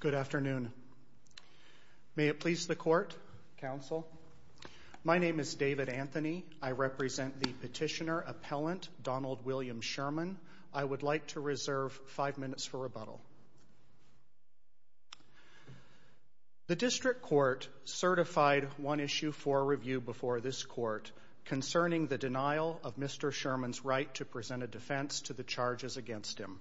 Good afternoon. May it please the court, counsel. My name is David Anthony. I represent the petitioner-appellant Donald William Sherman. I would like to reserve five minutes for rebuttal. The district court certified one issue for review before this court concerning the denial of Mr. Sherman's right to present a defense to the charges against him.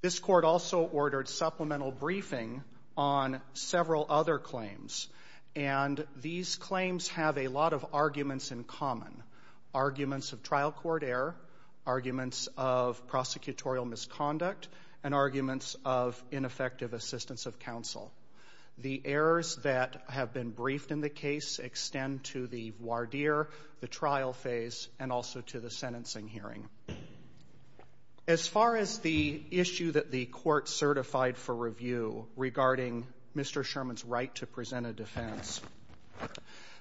This court also ordered supplemental briefing on several other claims, and these claims have a lot of arguments in common. Arguments of trial court error, arguments of prosecutorial misconduct, and arguments of ineffective assistance of counsel. The errors that have been briefed in the case extend to the voir dire, the trial phase, and also to the sentencing hearing. As far as the issue that the court certified for review regarding Mr. Sherman's right to present a defense,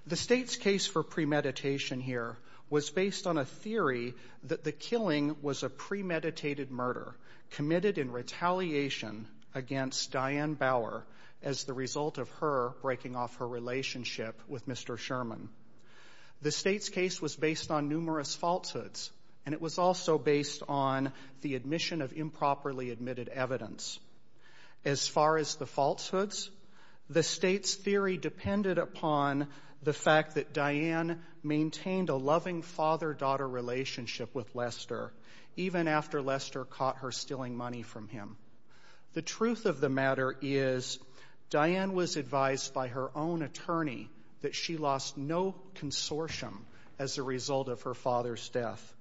the state's case for premeditation here was based on a theory that the killing was a premeditated murder committed in retaliation against Diane Bauer as the result of her breaking off her relationship with Mr. Sherman. The state's case was based on numerous falsehoods, and it was also based on the admission of improperly admitted evidence. As far as the falsehoods, the state's theory depended upon the fact that Diane maintained a loving father-daughter relationship with Lester, even after Lester caught her stealing money from him. The truth of the matter is, Diane was advised by her own attorney that she lost no consortium as the result of her father's death.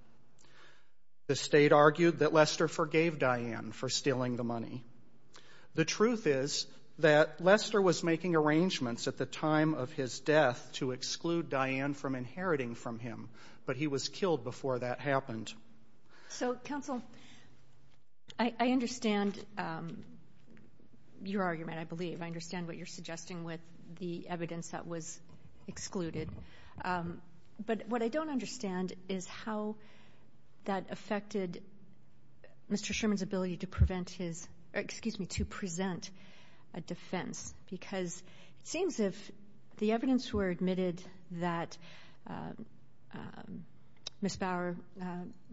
The state argued that Lester forgave Diane for stealing the money. The truth is that Lester was making arrangements at the time of his death to exclude Diane from inheriting from him, but he was killed before that happened. So, counsel, I understand your argument, I believe. I understand what you're suggesting with the evidence that was excluded. But what I don't understand is how that affected Mr. Sherman's ability to prevent his, excuse me, to present a defense. Because it seems if the evidence were admitted that Ms. Bauer,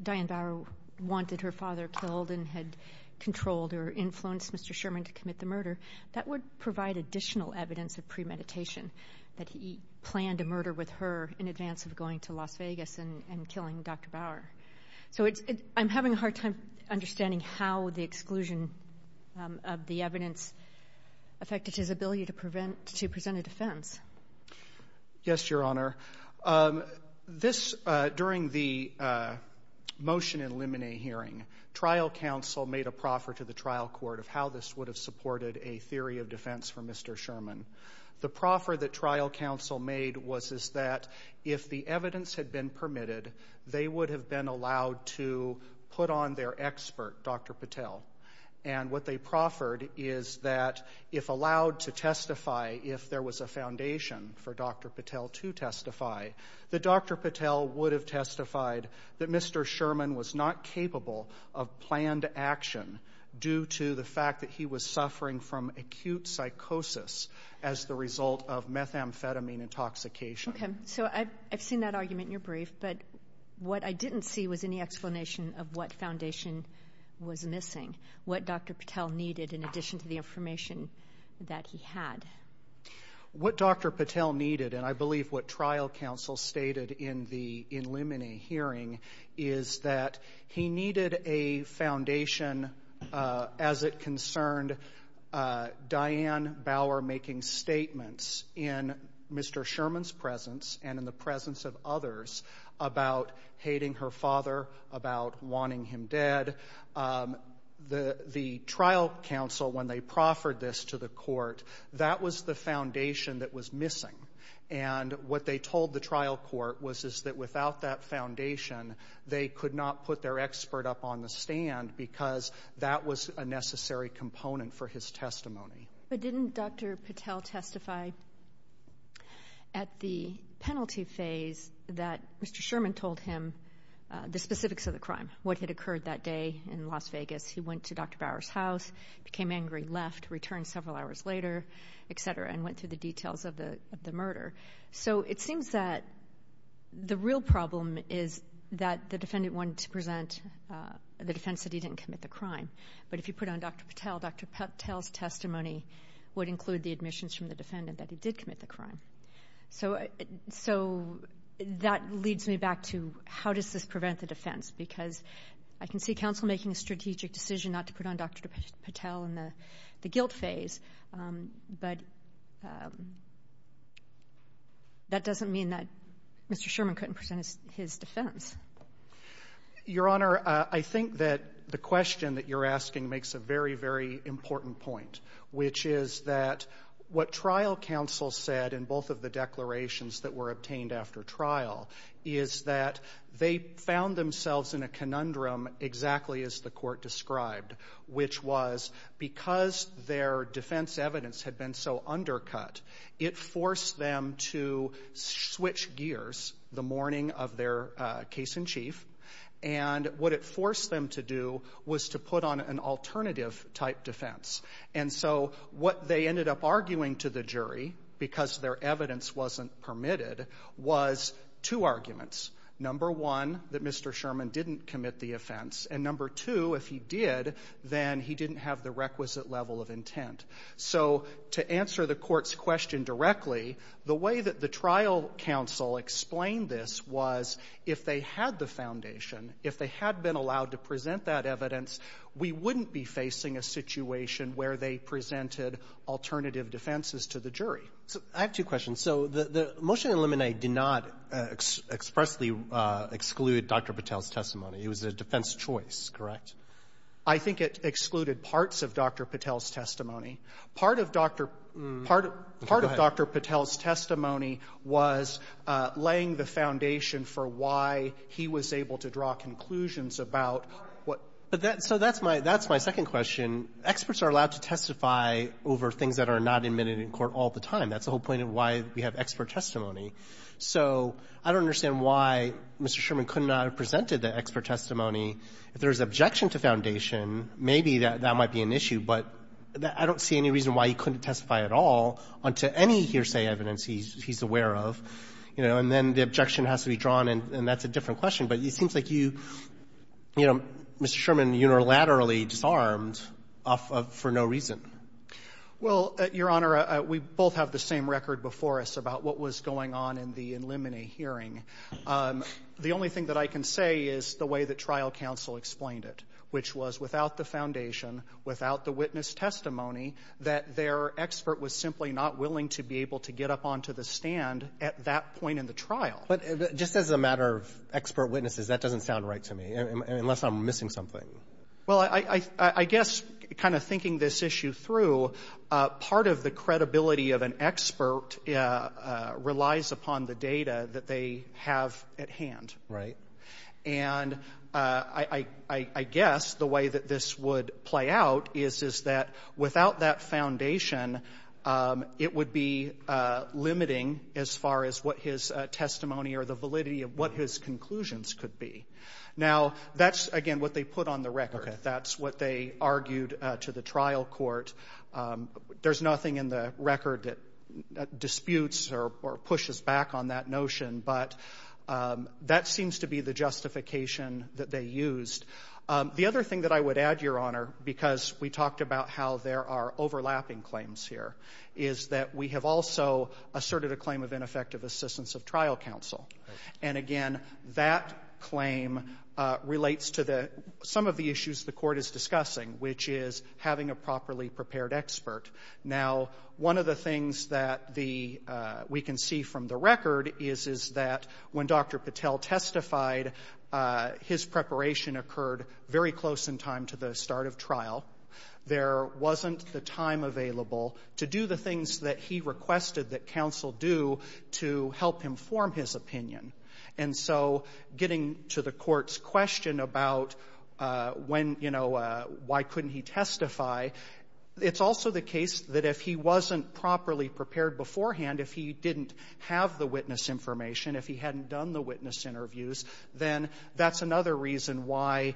Diane Bauer, wanted her father killed and had controlled or influenced Mr. Sherman to commit the murder, that would provide additional evidence of premeditation, that he planned a murder with her in advance of going to Las Vegas and killing Dr. Bauer. So I'm having a hard time understanding how the exclusion of the evidence affected his ability to present a defense. Yes, Your Honor. During the motion in Limine hearing, trial counsel made a proffer to the trial court of how this would have supported a theory of defense for Mr. Sherman. The proffer that trial counsel made was that if the evidence had been permitted, they would have been allowed to put on their expert, Dr. Patel. And what they proffered is that if allowed to testify, if there was a foundation for Dr. Patel to testify, that Dr. Patel would have testified that Mr. Sherman was not capable of planned action due to the fact that he was suffering from acute psychosis as the result of methamphetamine intoxication. Okay. So I've seen that argument in your brief, but what I didn't see was any explanation of what foundation was missing, what Dr. Patel needed in addition to the information that he had. What Dr. Patel needed, and I believe what trial counsel stated in the Limine hearing, is that he needed a foundation as it concerned Diane Bauer making statements in Mr. Sherman's presence and in the presence of others about hating her father, about wanting him dead. The trial counsel, when they proffered this to the court, that was the foundation that was missing. And what they told the trial court was that without that foundation, they could not put their expert up on the stand because that was a necessary component for his testimony. But didn't Dr. Patel testify at the penalty phase that Mr. Sherman told him the specifics of the crime, what had occurred that day in Las Vegas? He went to Dr. Bauer's house, became angry, left, returned several hours later, et cetera, and went through the details of the murder. So it seems that the real problem is that the defendant wanted to present the defense that he didn't commit the crime. But if you put on Dr. Patel, Dr. Patel's testimony would include the admissions from the defendant that he did commit the crime. So that leads me back to how does this prevent the defense? Because I can see counsel making a strategic decision not to put on Dr. Patel in the guilt phase, but that doesn't mean that Mr. Sherman couldn't present his defense. Your Honor, I think that the question that you're asking makes a very, very important point, which is that what trial counsel said in both of the declarations that were obtained after trial is that they found themselves in a conundrum exactly as the court described, which was because their case in chief. And what it forced them to do was to put on an alternative type defense. And so what they ended up arguing to the jury, because their evidence wasn't permitted, was two arguments. Number one, that Mr. Sherman didn't commit the offense. And number two, if he did, then he didn't have the requisite level of intent. So to answer the Court's question directly, the way that the trial counsel explained this was if they had the foundation, if they had been allowed to present that evidence, we wouldn't be facing a situation where they presented alternative defenses to the jury. Roberts. I have two questions. So the motion to eliminate did not expressly exclude Dr. Patel's testimony. It was a defense choice, correct? I think it excluded parts of Dr. Patel's testimony. Part of Dr. Patel's testimony was laying the foundation for why he was able to draw conclusions about what — So that's my second question. Experts are allowed to testify over things that are not admitted in court all the time. That's the whole point of why we have expert testimony. So I don't understand why Mr. Sherman could not have presented the expert testimony if there is objection to foundation. Maybe that might be an issue, but I don't see any reason why he couldn't testify at all unto any hearsay evidence he's aware of. You know, and then the objection has to be drawn, and that's a different question. But it seems like you, you know, Mr. Sherman unilaterally disarmed for no reason. Well, Your Honor, we both have the same record before us about what was going on in the eliminate hearing. The only thing that I can say is the way that trial counsel explained it, which was without the foundation, without the witness testimony, that their expert was simply not willing to be able to get up onto the stand at that point in the trial. But just as a matter of expert witnesses, that doesn't sound right to me, unless I'm missing something. Well, I guess kind of thinking this issue through, part of the credibility of an expert relies upon the data that they have at hand. Right. And I guess the way that this would play out is that without that foundation, it would be limiting as far as what his testimony or the validity of what his conclusions could be. Now, that's, again, what they put on the record. That's what they argued to the trial court. There's nothing in the record that disputes or pushes back on that notion, but that seems to be the justification that they used. The other thing that I would add, Your Honor, because we talked about how there are overlapping claims here, is that we have also asserted a claim of ineffective assistance of trial counsel. And, again, that claim relates to some of the issues the court is discussing, which is having a properly prepared expert. Now, one of the things that we can see from the record is that when Dr. Patel testified, his preparation occurred very close in time to the start of trial. There wasn't the time available to do the things that he requested that counsel do to help him form his opinion. And so getting to the court's question about when, you know, why couldn't he testify, it's also the case that if he wasn't properly prepared beforehand, if he didn't have the witness information, if he hadn't done the witness interviews, then that's another reason why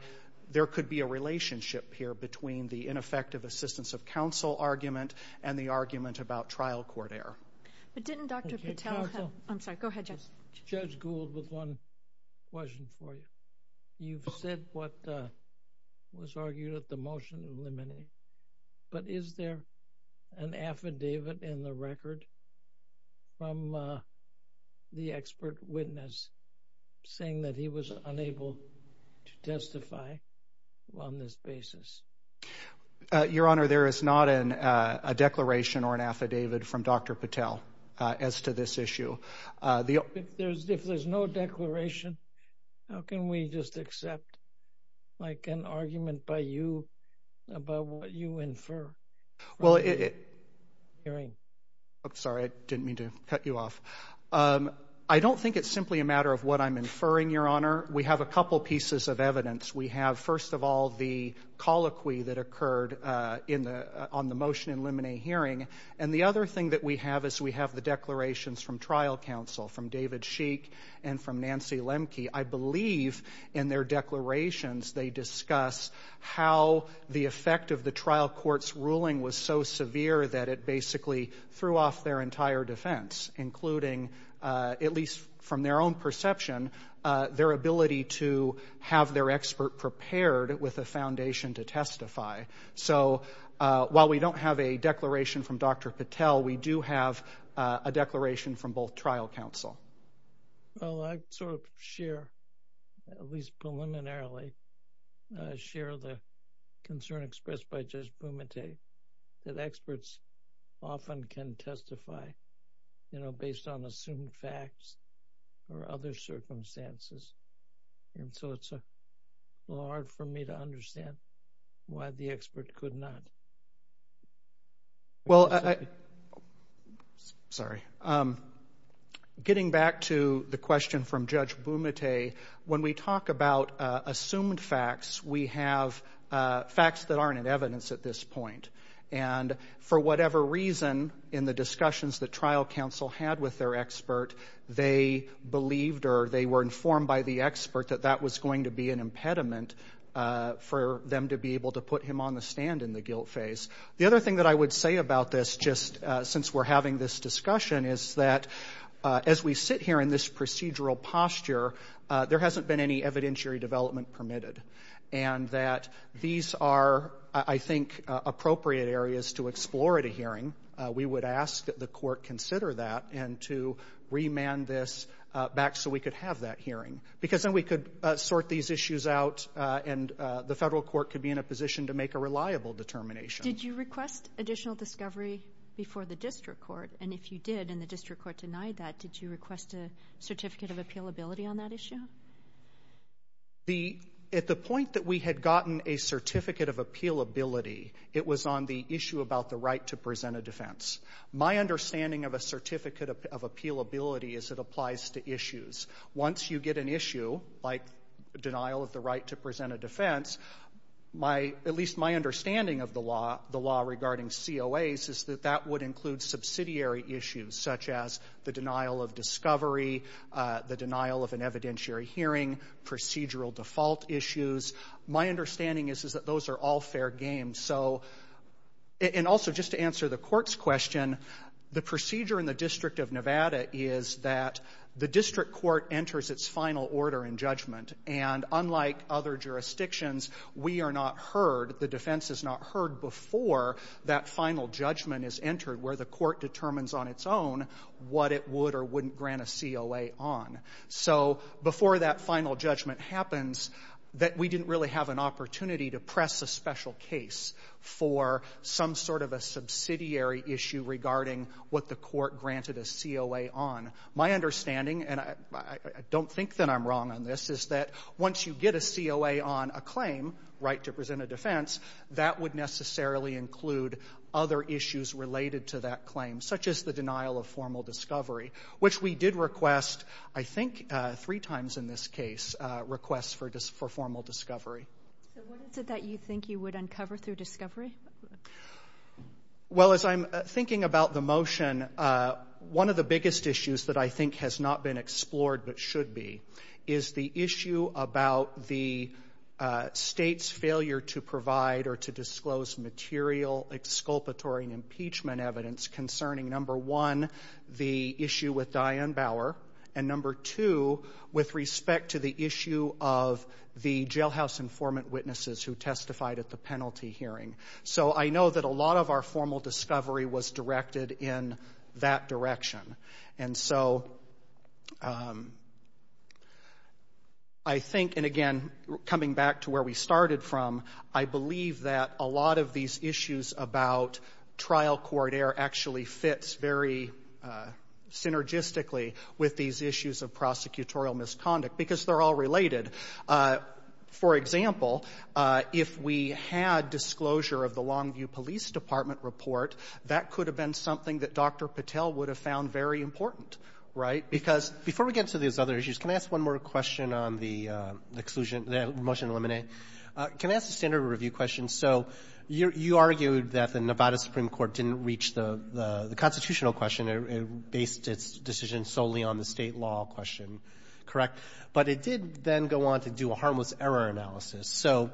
there could be a relationship here between the ineffective assistance of counsel argument and the argument about trial court error. But didn't Dr. Patel have... Counsel. I'm sorry. Go ahead, Judge. Judge Gould, with one question for you. You've said what was argued at the motion of limine. But is there an affidavit in the record from the expert witness saying that he was unable to testify on this basis? Your Honor, there is not a declaration or an affidavit from Dr. Patel as to this issue. If there's no declaration, how can we just accept, like, an argument by you about what you infer? Well, it... Hearing. I'm sorry. I didn't mean to cut you off. I don't think it's simply a matter of what I'm inferring, Your Honor. We have a couple pieces of evidence. We have, first of all, the colloquy that occurred on the motion in limine hearing. And the other thing that we have is we have the declarations from trial counsel, from David Sheik and from Nancy Lemke. I believe in their declarations they discuss how the effect of the trial court's ruling was so severe that it basically threw off including, at least from their own perception, their ability to have their expert prepared with a foundation to testify. So while we don't have a declaration from Dr. Patel, we do have a declaration from both trial counsel. Well, I sort of share, at least preliminarily, share the concern expressed by Judge Bumate that experts often can testify, you know, based on assumed facts or other circumstances. And so it's a little hard for me to understand why the expert could not. Well, getting back to the question from Judge Bumate, when we talk about assumed facts, we have facts that aren't in evidence at this point. And for whatever reason, in the discussions that trial counsel had with their expert, they believed or they were informed by the expert that that was going to be an impediment for them to be able to put him on the stand in the guilt phase. The other thing that I would say about this, just since we're having this discussion, is that as we sit here in this procedural posture, there hasn't been any evidentiary development permitted, and that these are, I think, appropriate areas to explore at a hearing. We would ask that the court consider that and to remand this back so we could have that hearing, because then we could sort these issues out and the federal court could be in a position to make a reliable determination. Did you request additional discovery before the district court? And if you did and the district court denied that, did you request a certificate of appealability on that issue? At the point that we had gotten a certificate of appealability, it was on the issue about the right to present a defense. My understanding of a certificate of appealability is it applies to issues. Once you get an issue, like denial of the right to present a defense, at least my understanding of the law regarding COAs is that that would include subsidiary issues, such as the denial of discovery, the denial of an evidentiary hearing, procedural default issues. My understanding is that those are all fair game. And also, just to answer the court's question, the procedure in the District of Nevada is that the district court enters its final order in judgment, and unlike other jurisdictions, we are not heard, the defense is not heard before that final judgment is entered where the court determines on its own what it would or wouldn't grant a COA on. So before that final judgment happens, that we didn't really have an opportunity to press a special case for some sort of a subsidiary issue regarding what the court granted a COA on. My understanding, and I don't think that I'm wrong on this, is that once you get a COA on a claim, right to present a defense, that would necessarily include other issues related to that claim, such as the denial of formal discovery, which we did request, I think three times in this case, requests for formal discovery. So what is it that you think you would uncover through discovery? Well, as I'm thinking about the motion, one of the biggest issues that I think has not been explored but should be is the issue about the state's failure to provide or to disclose material exculpatory and impeachment evidence concerning, number one, the issue with Diane Bauer, and number two, with respect to the issue of the jailhouse informant witnesses who testified at the penalty hearing. So I know that a lot of our formal discovery was directed in that direction. And so I think, and again, coming back to where we started from, I believe that a lot of these issues about trial court error actually fits very synergistically with these issues of prosecutorial misconduct because they're all related. For example, if we had disclosure of the Longview Police Department report, that could have been something that Dr. Patel would have found very important, right? Because before we get into these other issues, can I ask one more question on the exclusion of the motion to eliminate? Can I ask a standard review question? So you argued that the Nevada Supreme Court didn't reach the constitutional question and based its decision solely on the State law question, correct? But it did then go on to do a harmless error analysis. So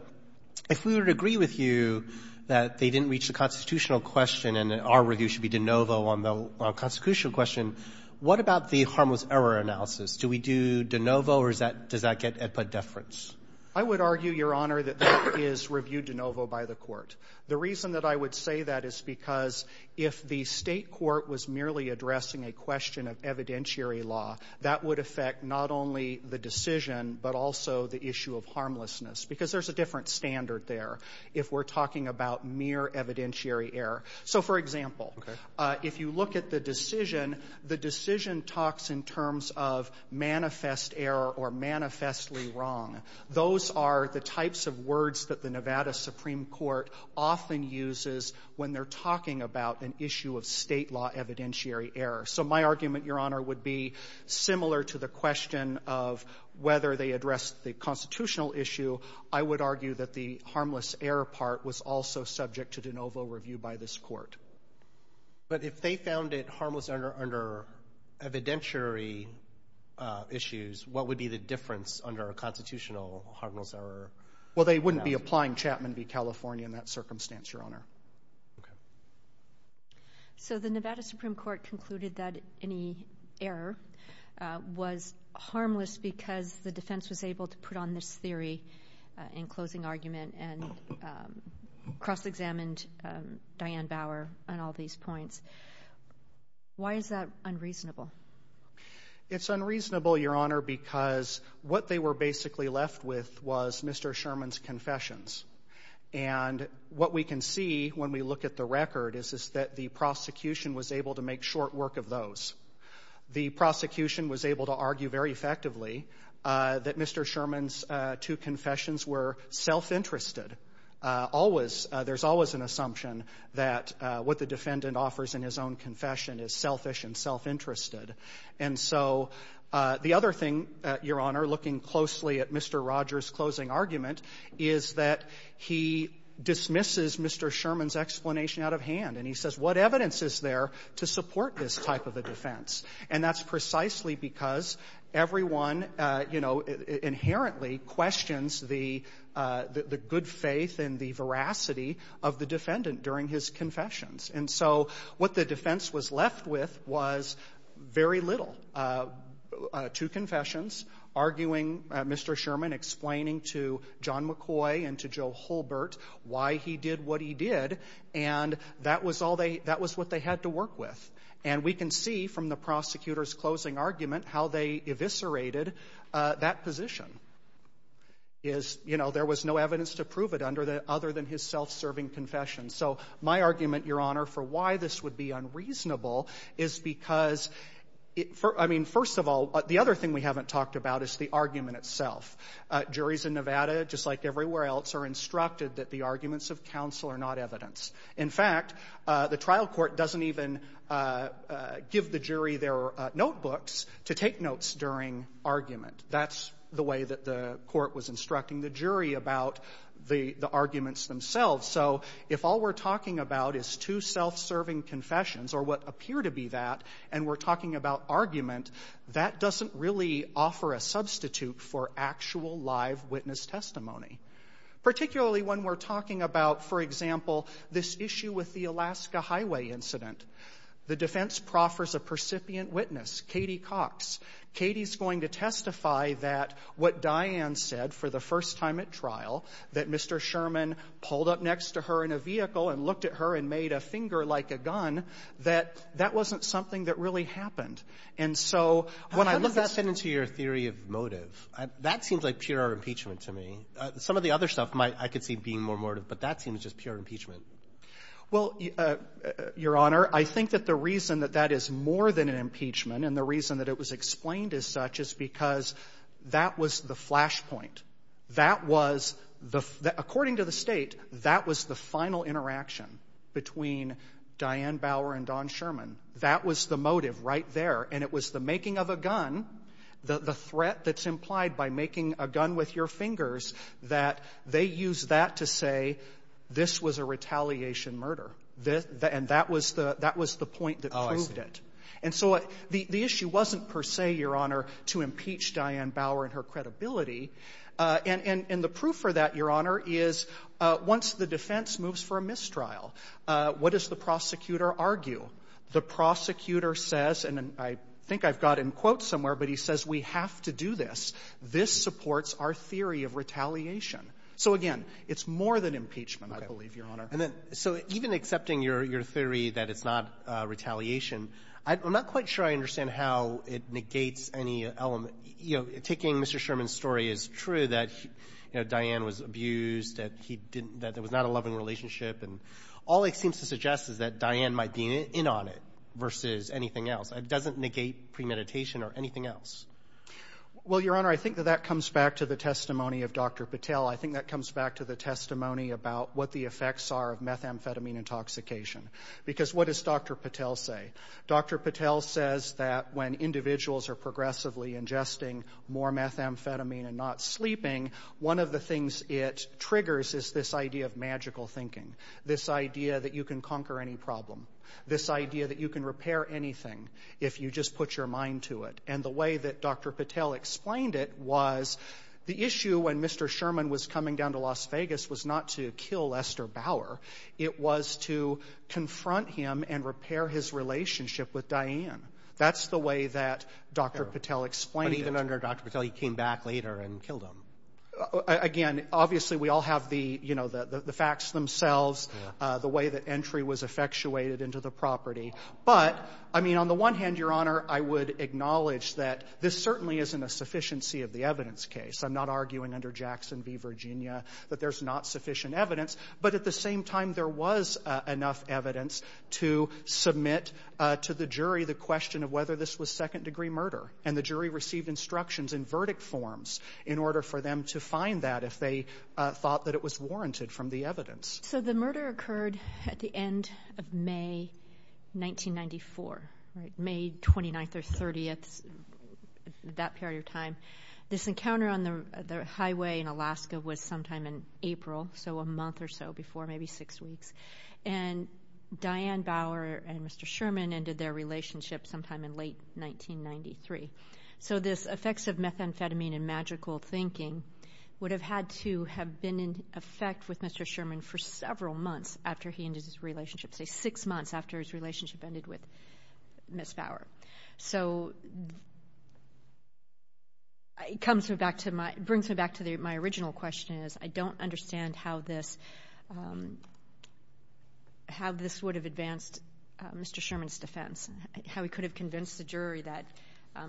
if we would agree with you that they didn't reach the constitutional question and our review should be de novo on the constitutional question, what about the harmless error analysis? Do we do de novo, or is that — does that get AEDPA deference? I would argue, Your Honor, that that is reviewed de novo by the Court. The reason that I would say that is because if the State court was merely addressing a question of evidentiary law, that would affect not only the decision, but also the issue of state law, because there's a different standard there if we're talking about mere evidentiary error. So, for example, if you look at the decision, the decision talks in terms of manifest error or manifestly wrong. Those are the types of words that the Nevada Supreme Court often uses when they're talking about an issue of State law evidentiary error. So my argument, Your Honor, would be similar to the question of whether they addressed the constitutional issue. I would argue that the harmless error part was also subject to de novo review by this Court. But if they found it harmless under evidentiary issues, what would be the difference under a constitutional harmless error? Well, they wouldn't be applying Chapman v. California in that circumstance, Your Honor. Okay. So the Nevada Supreme Court concluded that any error was harmless because the defense was able to put on this theory in closing argument and cross-examined Diane Bauer on all these points. Why is that unreasonable? It's unreasonable, Your Honor, because what they were basically left with was Mr. Sherman's confessions. And what we can see when we look at the record is that the prosecution was able to make short work of those. The prosecution was able to argue very effectively that Mr. Sherman's two confessions were self-interested. There's always an assumption that what the defendant offers in his own confession is selfish and self-interested. And so the other thing, Your Honor, looking closely at Mr. Rogers' closing argument, is that he dismisses Mr. Sherman's explanation out of hand, and he says, what evidence is there to support this type of a defense? And that's precisely because everyone, you know, inherently questions the good faith and the veracity of the defendant during his confessions. And so what the defense was left with was very little. Two confessions, arguing Mr. Sherman, explaining to John McCoy and to Joe Holbert why he did what he did, and that was all they that was what they had to work with. And we can see from the prosecutor's closing argument how they eviscerated that position. There was no evidence to prove it other than his self-serving confession. So my argument, Your Honor, for why this would be unreasonable is because, I mean, first of all, the other thing we haven't talked about is the argument itself. Juries in Nevada, just like everywhere else, are instructed that the arguments of counsel are not evidence. In fact, the trial court doesn't even give the jury their notebooks to take notes during argument. That's the way that the court was instructing the jury about the arguments themselves. So if all we're talking about is two self-serving confessions, or what appear to be that, and we're talking about argument, that doesn't really offer a substitute for actual live witness testimony, particularly when we're talking about, for example, this issue with the Alaska Highway incident. The defense proffers a percipient witness, Katie Cox. Katie's going to testify that what Diane said for the first time at trial, that Mr. Sherman pulled up next to her in a vehicle and looked at her and made a finger like a gun, that that wasn't something that really happened. And so when I look at the ---- Roberts. How does that fit into your theory of motive? That seems like pure impeachment to me. Some of the other stuff I could see being more motive, but that seems just pure impeachment. Well, Your Honor, I think that the reason that that is more than an impeachment and the reason that it was explained as such is because that was the flashpoint. That was the ---- according to the State, that was the final interaction between Diane Bauer and Don Sherman. That was the motive right there. And it was the making of a gun, the threat that's implied by making a gun with your fingers, that they used that to say this was a retaliation murder. And that was the point that proved it. Oh, I see. And so the issue wasn't per se, Your Honor, to impeach Diane Bauer and her credibility. And the proof for that, Your Honor, is once the defense moves for a mistrial, what does the prosecutor argue? The prosecutor says, and I think I've got it in quotes somewhere, but he says we have to do this. This supports our theory of retaliation. So, again, it's more than impeachment, I believe, Your Honor. Okay. And then so even accepting your theory that it's not retaliation, I'm not quite sure I understand how it negates any element. You know, taking Mr. Sherman's story, it's true that, you know, Diane was abused, that he didn't ---- that there was not a loving relationship. And all it seems to suggest is that Diane might be in on it versus anything else. It doesn't negate premeditation or anything else. Well, Your Honor, I think that that comes back to the testimony of Dr. Patel. I think that comes back to the testimony about what the effects are of methamphetamine intoxication. Because what does Dr. Patel say? Dr. Patel says that when individuals are progressively ingesting more methamphetamine and not sleeping, one of the things it triggers is this idea of magical thinking, this idea that you can conquer any problem, this idea that you can repair anything if you just put your mind to it. And the way that Dr. Patel explained it was the issue when Mr. Sherman was coming down to Las Vegas was not to kill Lester Bauer. It was to confront him and repair his relationship with Diane. That's the way that Dr. Patel explained it. I'm not sure Dr. Patel came back later and killed him. Again, obviously, we all have the facts themselves, the way that entry was effectuated into the property. But, I mean, on the one hand, Your Honor, I would acknowledge that this certainly isn't a sufficiency of the evidence case. I'm not arguing under Jackson v. Virginia that there's not sufficient evidence. But at the same time, there was enough evidence to submit to the jury the question of whether this was warranted from the evidence. So the murder occurred at the end of May 1994, May 29th or 30th, that period of time. This encounter on the highway in Alaska was sometime in April, so a month or so before, maybe six weeks. And Diane Bauer and Mr. Sherman ended their relationship sometime in late 1993. So this effects of methamphetamine and magical thinking would have had to have been in effect with Mr. Sherman for several months after he ended his relationship, say six months after his relationship ended with Ms. Bauer. It brings me back to my original question is, I don't understand how this would have advanced Mr. Sherman's defense, how he could have convinced the jury that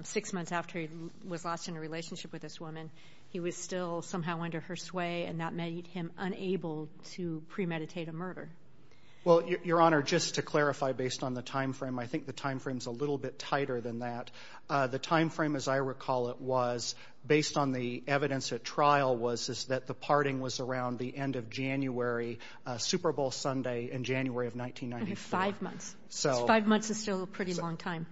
six months after he was lost in a relationship with this woman, he was still somehow under her sway, and that made him unable to premeditate a murder. Well, Your Honor, just to clarify based on the time frame, I think the time frame is a little bit tighter than that. The time frame, as I recall it, was, based on the evidence at trial, was that the parting was around the end of January, Super Bowl Sunday in January of 1994. Five months. Five months is still a pretty long time.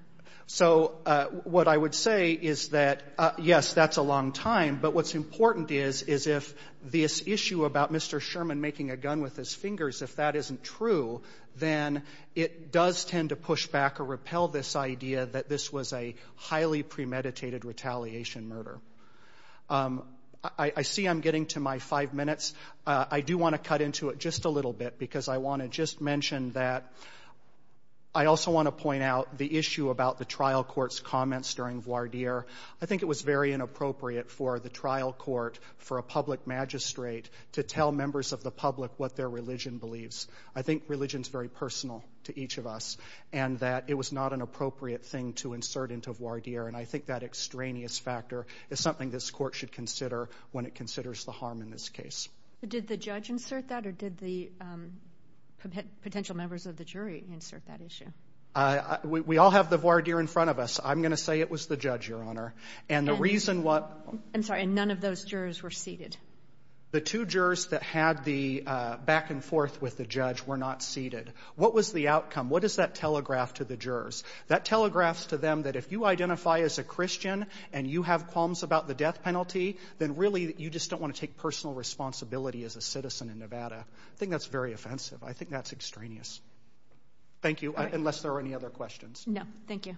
So what I would say is that, yes, that's a long time, but what's important is if this issue about Mr. Sherman making a gun with his fingers, if that isn't true, then it does tend to push back or repel this idea that this was a highly premeditated retaliation murder. I see I'm getting to my five minutes. I do want to cut into it just a little bit because I want to just mention that I also want to point out the issue about the trial court's comments during voir dire. I think it was very inappropriate for the trial court, for a public magistrate, to tell members of the public what their religion believes. I think religion is very personal to each of us, and that it was not an appropriate thing to insert into voir dire, and I think that extraneous factor is something this court should consider when it considers the harm in this case. Did the judge insert that, or did the potential members of the jury insert that issue? We all have the voir dire in front of us. I'm going to say it was the judge, Your Honor. And the reason what... I'm sorry, and none of those jurors were seated? The two jurors that had the back and forth with the judge were not seated. What was the outcome? What does that telegraph to the jurors? That telegraphs to them that if you identify as a Christian and you have qualms about the death of your responsibility as a citizen in Nevada, I think that's very offensive. I think that's extraneous. Thank you, unless there are any other questions. No, thank you.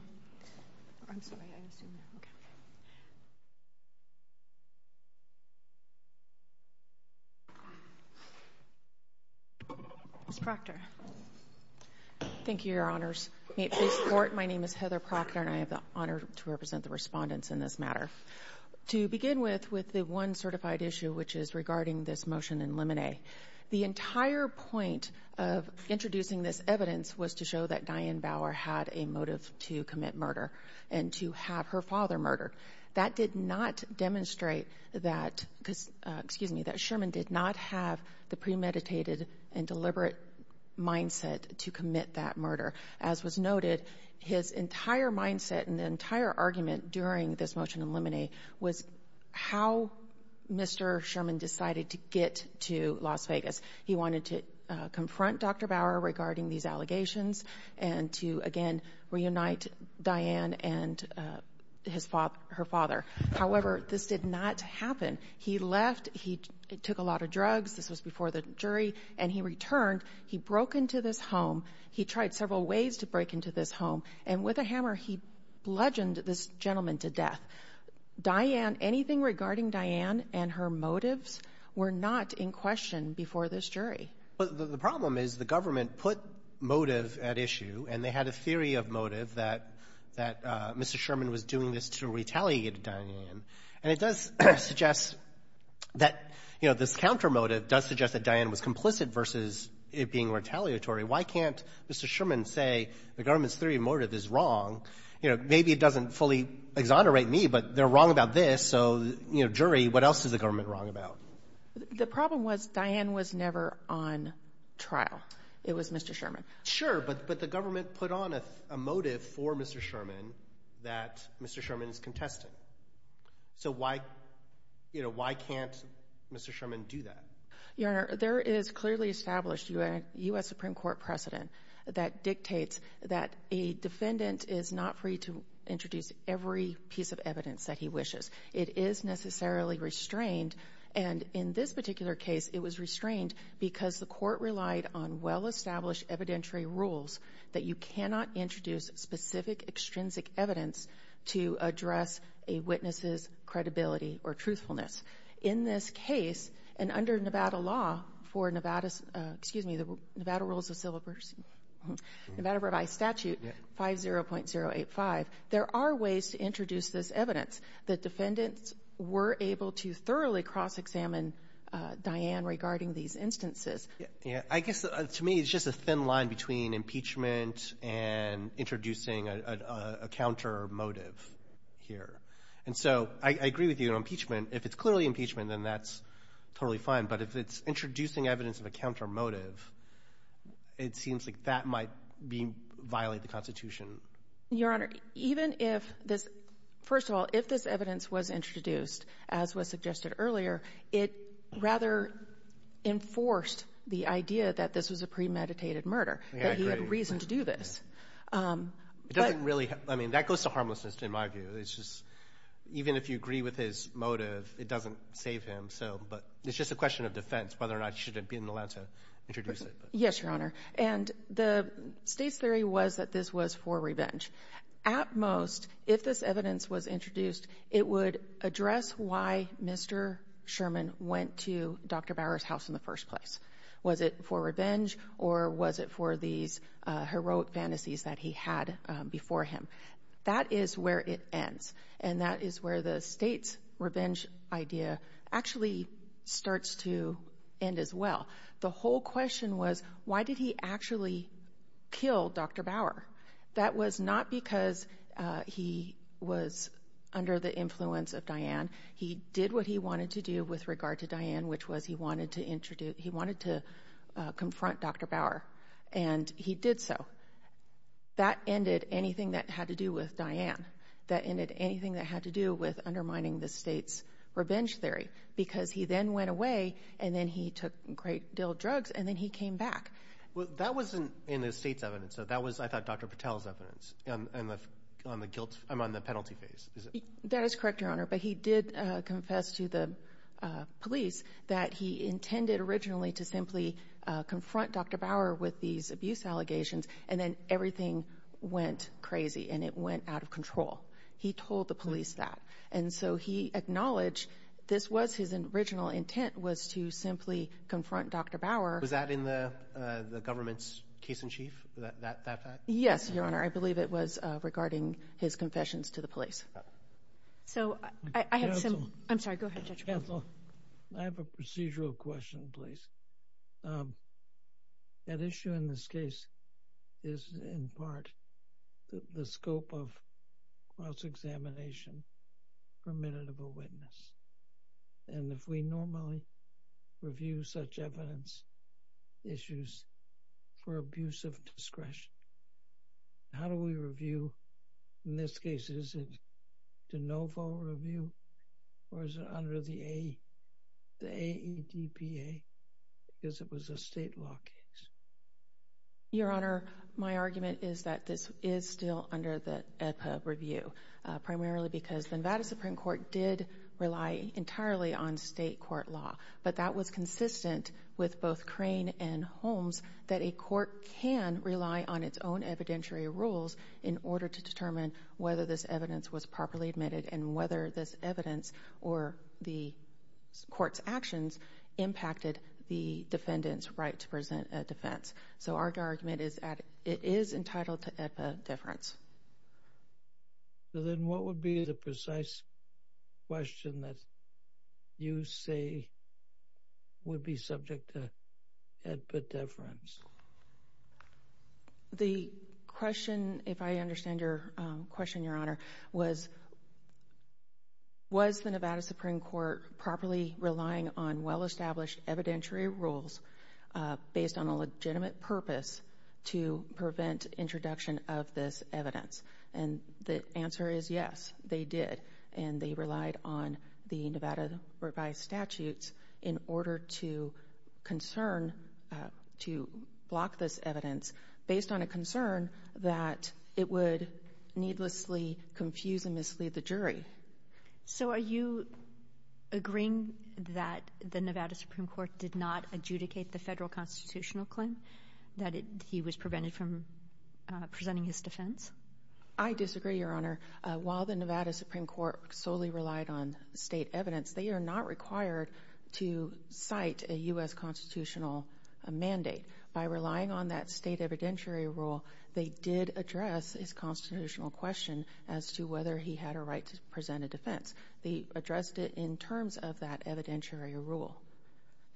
I'm sorry, I assumed that. Okay. Ms. Proctor. Thank you, Your Honors. May it please the Court, my name is Heather Proctor, and I have the honor to represent the respondents in this matter. To begin with, with the one certified issue, which is regarding this motion in limine. The entire point of introducing this evidence was to show that Diane Bauer had a motive to commit murder and to have her father murdered. That did not demonstrate that, excuse me, that Sherman did not have the premeditated and deliberate mindset to commit that murder. As was noted, his entire mindset and entire argument during this motion in limine was how Mr. Sherman decided to get to Las Vegas. He wanted to confront Dr. Bauer regarding these allegations and to, again, reunite Diane and her father. However, this did not happen. He left, he took a lot of drugs, this was before the jury, and he returned. He broke into this home. He tried several ways to break into this home, and with a hammer, he bludgeoned this gentleman to death. Diane, anything regarding Diane and her motives were not in question before this jury. Well, the problem is the government put motive at issue, and they had a theory of motive that Mr. Sherman was doing this to retaliate against Diane. And it does suggest that, you know, this countermotive does suggest that Diane was complicit versus it being retaliatory. Why can't Mr. Sherman say the government's theory of motive is wrong? You know, maybe it doesn't fully exonerate me, but they're wrong about this, so, you know, jury, what else is the government wrong about? The problem was Diane was never on trial. It was Mr. Sherman. Sure, but the government put on a motive for Mr. Sherman that Mr. Sherman is contestant. So why, you know, why can't Mr. Sherman do that? Your Honor, there is clearly established U.S. Supreme Court precedent that dictates that a defendant is not free to introduce every piece of evidence that he wishes. It is necessarily restrained. And in this particular case, it was restrained because the court relied on well-established evidentiary rules that you cannot introduce specific extrinsic evidence to address a witness's credibility or truthfulness. In this case, and under Nevada law for Nevada's ‑‑ excuse me, Nevada rules of order by statute 50.085, there are ways to introduce this evidence. The defendants were able to thoroughly cross-examine Diane regarding these instances. Yeah. I guess to me it's just a thin line between impeachment and introducing a counter motive here. And so I agree with you on impeachment. If it's clearly impeachment, then that's totally fine. But if it's introducing evidence of a counter motive, it seems like that might violate the Constitution. Your Honor, even if this ‑‑ first of all, if this evidence was introduced, as was suggested earlier, it rather enforced the idea that this was a premeditated murder, that he had reason to do this. It doesn't really ‑‑ I mean, that goes to harmlessness in my view. It's just even if you agree with his motive, it doesn't save him. It's just a question of defense, whether or not he should have been allowed to introduce it. Yes, Your Honor. And the State's theory was that this was for revenge. At most, if this evidence was introduced, it would address why Mr. Sherman went to Dr. Bauer's house in the first place. Was it for revenge or was it for these heroic fantasies that he had before him? That is where it ends. And that is where the State's revenge idea actually starts to end as well. The whole question was why did he actually kill Dr. Bauer? That was not because he was under the influence of Diane. He did what he wanted to do with regard to Diane, which was he wanted to confront Dr. Bauer. And he did so. That ended anything that had to do with Diane. That ended anything that had to do with undermining the State's revenge theory because he then went away and then he took great deal of drugs and then he came back. Well, that wasn't in the State's evidence. That was, I thought, Dr. Patel's evidence on the penalty phase. That is correct, Your Honor. But he did confess to the police that he intended originally to simply confront Dr. Bauer with these abuse allegations. And then everything went crazy and it went out of control. He told the police that. And so he acknowledged this was his original intent was to simply confront Dr. Bauer. Was that in the government's case in chief, that fact? Yes, Your Honor. I believe it was regarding his confessions to the police. So I have some – I'm sorry, go ahead, Judge. Counsel, I have a procedural question, please. That issue in this case is in part the scope of cross-examination permitted of a witness. And if we normally review such evidence issues for abuse of discretion, how do we review in this case? Is it de novo review or is it under the AEDPA? Because it was a state law case. Your Honor, my argument is that this is still under the AEDPA review, primarily because the Nevada Supreme Court did rely entirely on state court law. But that was consistent with both Crane and Holmes, that a court can rely on its own evidentiary rules in order to determine whether this evidence was properly admitted and whether this evidence or the court's actions impacted the defendant's right to present a defense. So our argument is it is entitled to AEDPA deference. Then what would be the precise question that you say would be subject to AEDPA deference? The question, if I understand your question, Your Honor, was was the Nevada Supreme Court properly relying on well-established evidentiary rules based on a legitimate purpose to prevent introduction of this evidence? And the answer is yes, they did. And they relied on the Nevada Revised Statutes in order to concern, to block this evidence based on a concern that it would needlessly confuse and mislead the jury. So are you agreeing that the Nevada Supreme Court did not adjudicate the federal constitutional claim, that he was prevented from presenting his defense? I disagree, Your Honor. While the Nevada Supreme Court solely relied on state evidence, they are not required to cite a U.S. constitutional mandate. By relying on that state evidentiary rule, they did address his constitutional question as to whether he had a right to present a defense. They addressed it in terms of that evidentiary rule.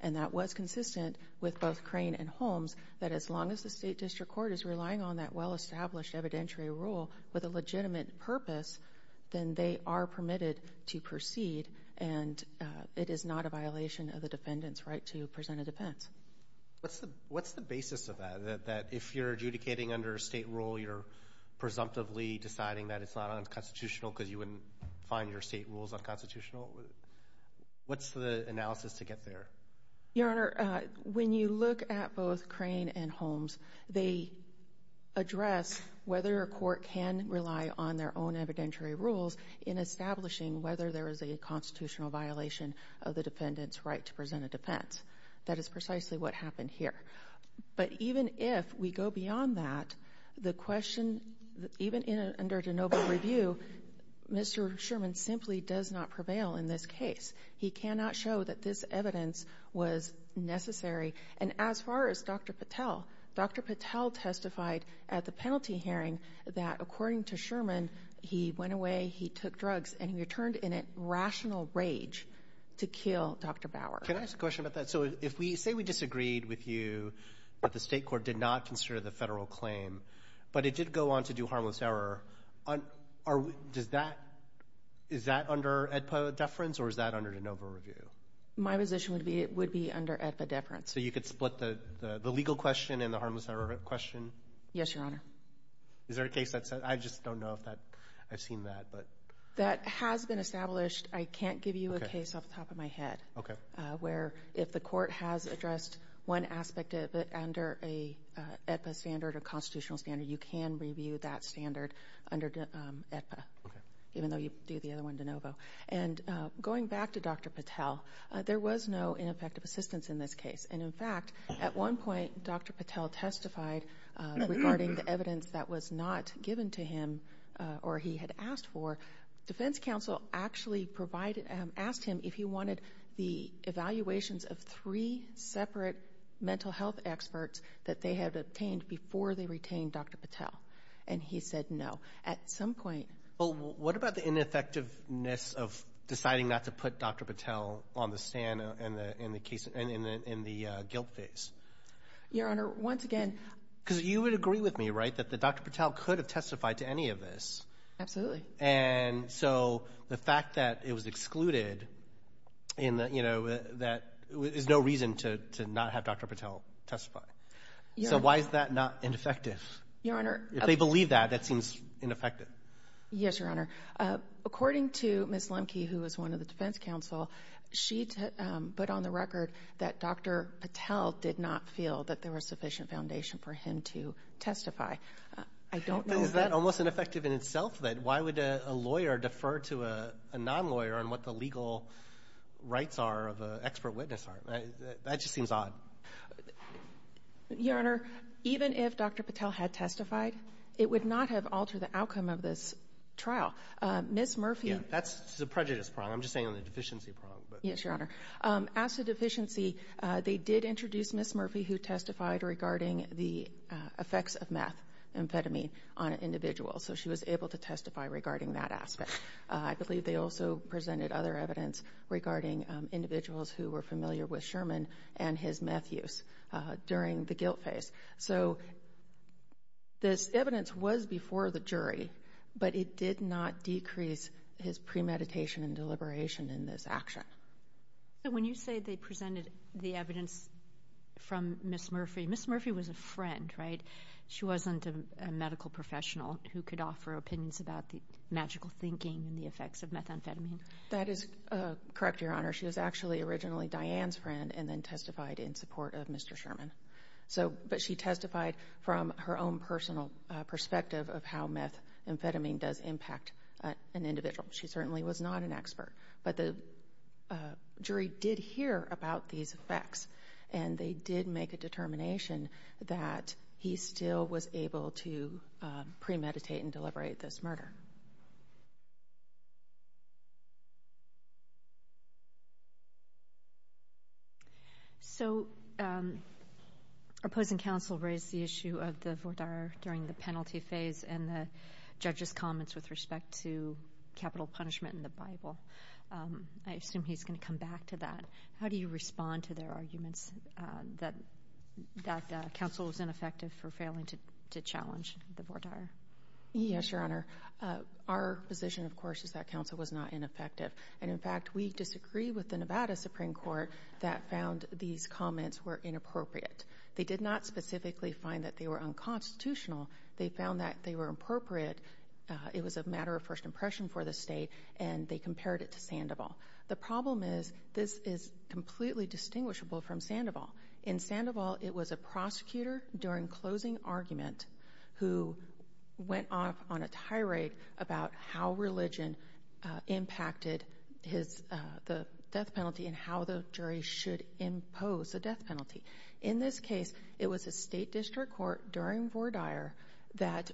And that was consistent with both Crane and Holmes, that as long as the State District Court is relying on that well-established evidentiary rule with a legitimate purpose, then they are permitted to proceed, and it is not a violation of the defendant's right to present a defense. What's the basis of that, that if you're adjudicating under a state rule, you're presumptively deciding that it's not unconstitutional because you wouldn't find your state rules unconstitutional? What's the analysis to get there? Your Honor, when you look at both Crane and Holmes, they address whether a court can rely on their own evidentiary rules in establishing whether there is a constitutional violation of the defendant's right to present a defense. That is precisely what happened here. But even if we go beyond that, the question, even under DeNoble review, Mr. Sherman simply does not prevail in this case. He cannot show that this evidence was necessary. And as far as Dr. Patel, Dr. Patel testified at the penalty hearing that according to Sherman, he went away, he took drugs, and he returned in a rational rage to kill Dr. Bauer. Can I ask a question about that? So say we disagreed with you, but the state court did not consider the federal claim, but it did go on to do harmless error. Is that under AEDPA deference, or is that under DeNoble review? My position would be it would be under AEDPA deference. So you could split the legal question and the harmless error question? Yes, Your Honor. Is there a case that says that? I just don't know if I've seen that. That has been established. I can't give you a case off the top of my head where if the court has addressed one aspect under an AEDPA standard or constitutional standard, you can review that standard under AEDPA, even though you do the other one DeNoble. Going back to Dr. Patel, there was no ineffective assistance in this case. In fact, at one point Dr. Patel testified regarding the evidence that was not given to him or he had asked for. Defense counsel actually asked him if he wanted the evaluations of three separate mental health experts that they had obtained before they retained Dr. Patel, and he said no. Well, what about the ineffectiveness of deciding not to put Dr. Patel on the stand in the guilt phase? Your Honor, once again— Because you would agree with me, right, that Dr. Patel could have testified to any of this. Absolutely. And so the fact that it was excluded is no reason to not have Dr. Patel testify. So why is that not ineffective? Your Honor— If they believe that, that seems ineffective. Yes, Your Honor. According to Ms. Lemke, who was one of the defense counsel, she put on the record that Dr. Patel did not feel that there was sufficient foundation for him to testify. I don't know— Isn't that almost ineffective in itself, then? Why would a lawyer defer to a non-lawyer on what the legal rights are of an expert witness are? That just seems odd. Your Honor, even if Dr. Patel had testified, it would not have altered the outcome of this trial. Ms. Murphy— Yeah, that's the prejudice prong. I'm just saying the deficiency prong. Yes, Your Honor. As to deficiency, they did introduce Ms. Murphy, who testified regarding the effects of methamphetamine on an individual. So she was able to testify regarding that aspect. I believe they also presented other evidence regarding individuals who were familiar with Sherman and his meth use during the guilt phase. So this evidence was before the jury, but it did not decrease his premeditation and deliberation in this action. So when you say they presented the evidence from Ms. Murphy, Ms. Murphy was a friend, right? She wasn't a medical professional who could offer opinions about the magical thinking and the effects of methamphetamine. That is correct, Your Honor. She was actually originally Diane's friend and then testified in support of Mr. Sherman. But she testified from her own personal perspective of how methamphetamine does impact an individual. She certainly was not an expert, but the jury did hear about these effects, and they did make a determination that he still was able to premeditate and deliberate this murder. So opposing counsel raised the issue of the voir dire during the penalty phase and the judge's comments with respect to capital punishment in the Bible. I assume he's going to come back to that. How do you respond to their arguments that counsel was ineffective for failing to challenge the voir dire? Yes, Your Honor. Our position, of course, is that counsel was not ineffective. And, in fact, we disagree with the Nevada Supreme Court that found these comments were inappropriate. They did not specifically find that they were unconstitutional. They found that they were appropriate. It was a matter of first impression for the state, and they compared it to Sandoval. The problem is this is completely distinguishable from Sandoval. In Sandoval, it was a prosecutor during closing argument who went off on a tirade about how religion impacted the death penalty and how the jury should impose a death penalty. In this case, it was a state district court during voir dire that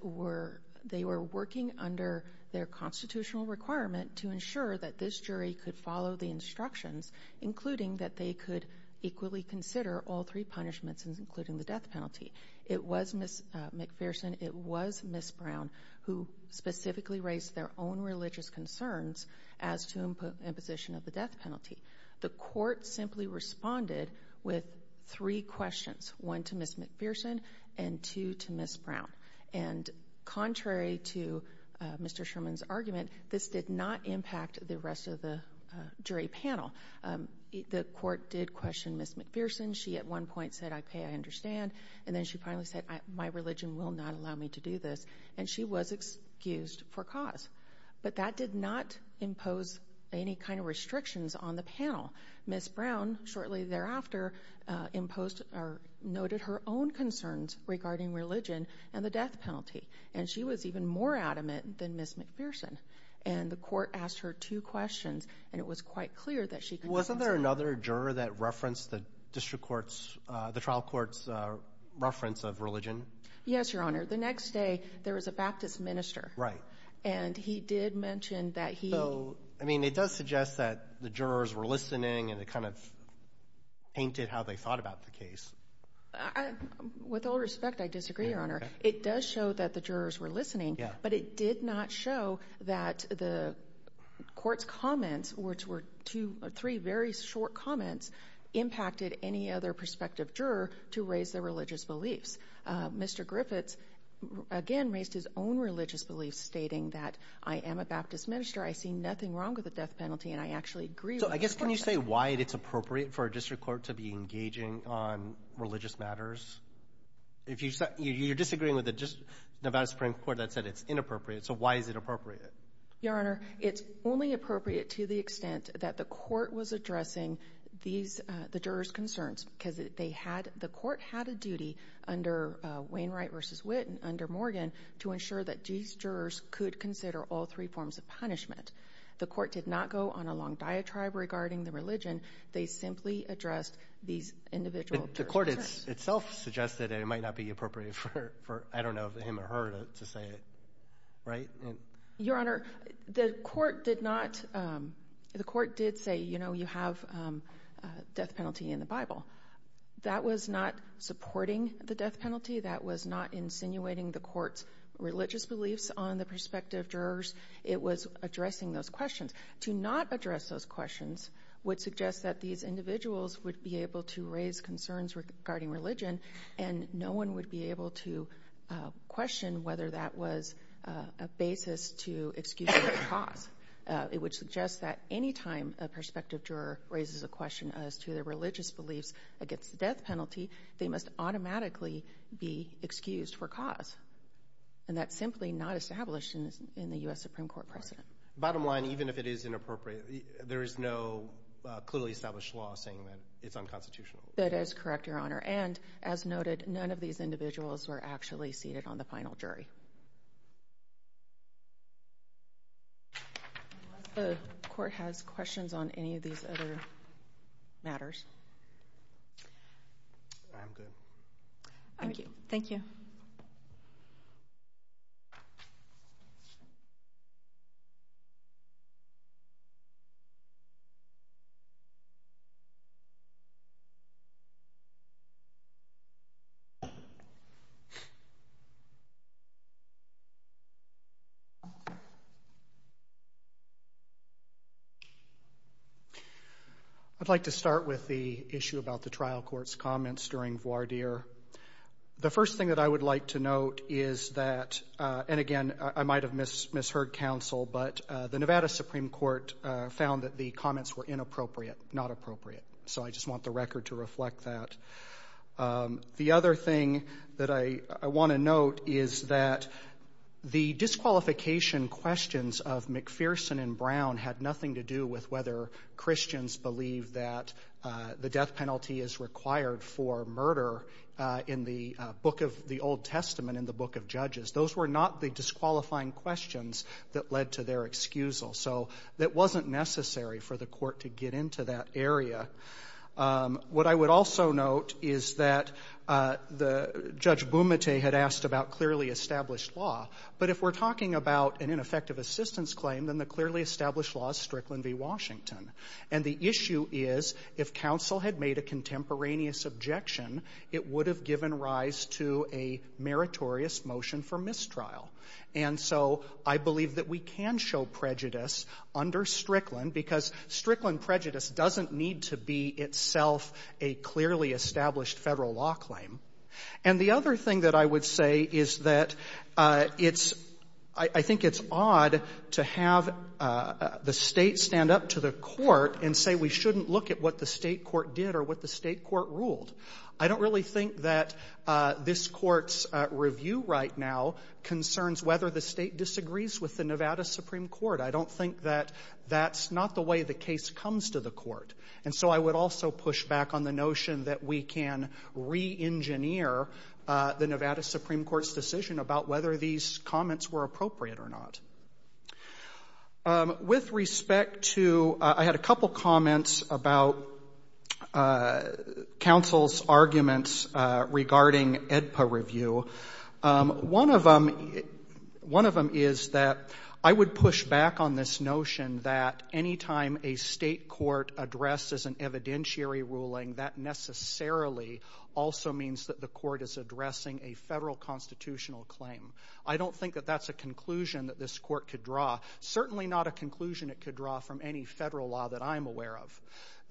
they were working under their constitutional requirement to ensure that this jury could follow the instructions, including that they could equally consider all three punishments, including the death penalty. It was Ms. McPherson. It was Ms. Brown who specifically raised their own religious concerns as to imposition of the death penalty. The court simply responded with three questions, one to Ms. McPherson and two to Ms. Brown. And contrary to Mr. Sherman's argument, this did not impact the rest of the jury panel. The court did question Ms. McPherson. She at one point said, I pay, I understand. And then she finally said, my religion will not allow me to do this. And she was excused for cause. But that did not impose any kind of restrictions on the panel. Ms. Brown shortly thereafter imposed or noted her own concerns regarding religion and the death penalty. And she was even more adamant than Ms. McPherson. And the court asked her two questions, and it was quite clear that she could compensate. Wasn't there another juror that referenced the district court's, the trial court's reference of religion? Yes, Your Honor. The next day, there was a Baptist minister. Right. And he did mention that he. So, I mean, it does suggest that the jurors were listening and it kind of painted how they thought about the case. With all respect, I disagree, Your Honor. It does show that the jurors were listening. But it did not show that the court's comments, which were two or three very short comments, impacted any other prospective juror to raise their religious beliefs. Mr. Griffiths, again, raised his own religious beliefs, stating that I am a Baptist minister, I see nothing wrong with the death penalty, and I actually agree with the court. So, I guess, can you say why it's appropriate for a district court to be engaging on religious matters? You're disagreeing with the Nevada Supreme Court that said it's inappropriate. So why is it appropriate? Your Honor, it's only appropriate to the extent that the court was addressing the jurors' concerns because the court had a duty under Wainwright v. Witt and under Morgan to ensure that these jurors could consider all three forms of punishment. The court did not go on a long diatribe regarding the religion. They simply addressed these individual jurors' concerns. The court itself suggested it might not be appropriate for, I don't know, him or her to say it, right? Your Honor, the court did say, you know, you have a death penalty in the Bible. That was not supporting the death penalty. That was not insinuating the court's religious beliefs on the prospective jurors. It was addressing those questions. To not address those questions would suggest that these individuals would be able to raise concerns regarding religion and no one would be able to question whether that was a basis to excuse for cause. It would suggest that any time a prospective juror raises a question as to their religious beliefs against the death penalty, they must automatically be excused for cause. And that's simply not established in the U.S. Supreme Court precedent. Bottom line, even if it is inappropriate, there is no clearly established law saying that it's unconstitutional. That is correct, Your Honor. And, as noted, none of these individuals were actually seated on the final jury. The court has questions on any of these other matters. I'm good. Thank you. I'd like to start with the issue about the trial court's comments during voir dire. The first thing that I would like to note is that, and, again, I might have misheard counsel, but the Nevada Supreme Court found that the comments were inappropriate, not appropriate. So I just want the record to reflect that. The other thing that I want to note is that the disqualification questions of McPherson and Brown had nothing to do with whether Christians believed that the death penalty is required for murder in the Old Testament, in the Book of Judges. Those were not the disqualifying questions that led to their excusal. So it wasn't necessary for the court to get into that area. What I would also note is that Judge Bumate had asked about clearly established law, but if we're talking about an ineffective assistance claim, then the clearly established law is Strickland v. Washington. And the issue is if counsel had made a contemporaneous objection, it would have given rise to a meritorious motion for mistrial. And so I believe that we can show prejudice under Strickland because Strickland prejudice doesn't need to be itself a clearly established Federal law claim. And the other thing that I would say is that it's — I think it's odd to have the State stand up to the Court and say we shouldn't look at what the State court did or what the State court ruled. I don't really think that this Court's review right now concerns whether the State disagrees with the Nevada Supreme Court. I don't think that that's not the way the case comes to the Court. And so I would also push back on the notion that we can re-engineer the Nevada Supreme Court's decision about whether these comments were appropriate or not. With respect to — I had a couple comments about counsel's arguments regarding AEDPA review. One of them is that I would push back on this notion that any time a State court addresses an evidentiary ruling, that necessarily also means that the Court is addressing a Federal constitutional claim. I don't think that that's a conclusion that this Court could draw. Certainly not a conclusion it could draw from any Federal law that I'm aware of.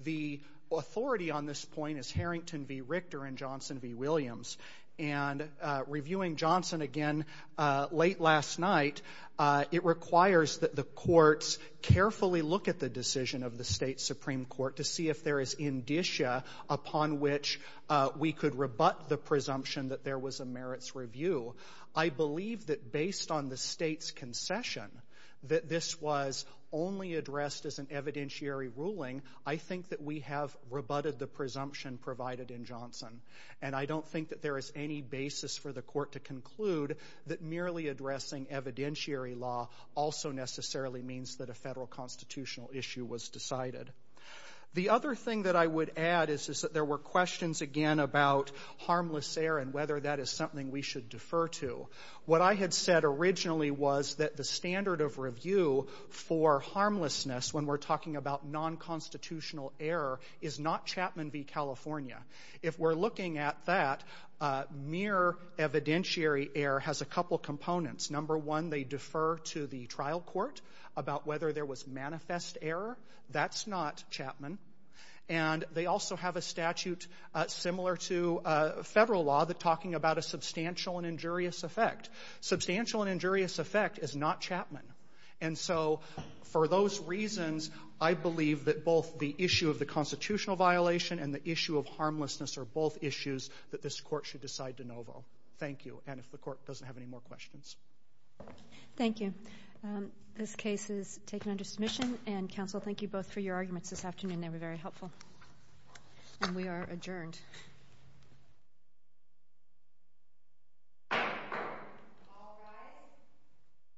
The authority on this point is Harrington v. Richter and Johnson v. Williams. And reviewing Johnson again late last night, it requires that the courts carefully look at the decision of the State Supreme Court to see if there is indicia upon which we could rebut the presumption that there was a merits review. I believe that based on the State's concession that this was only addressed as an evidentiary ruling, I think that we have rebutted the presumption provided in Johnson. And I don't think that there is any basis for the Court to conclude that merely addressing evidentiary law also necessarily means that a Federal constitutional issue was decided. The other thing that I would add is that there were questions, again, about harmless air and whether that is something we should defer to. What I had said originally was that the standard of review for harmlessness when we're talking about non-constitutional air is not Chapman v. California. If we're looking at that, mere evidentiary air has a couple components. Number one, they defer to the trial court about whether there was manifest air. That's not Chapman. And they also have a statute similar to Federal law that's talking about a substantial and injurious effect. Substantial and injurious effect is not Chapman. And so for those reasons, I believe that both the issue of the constitutional violation and the issue of harmlessness are both issues that this Court should decide de novo. Thank you. And if the Court doesn't have any more questions. Kagan. Thank you. This case is taken under submission. And, Counsel, thank you both for your arguments this afternoon. They were very helpful. And we are adjourned.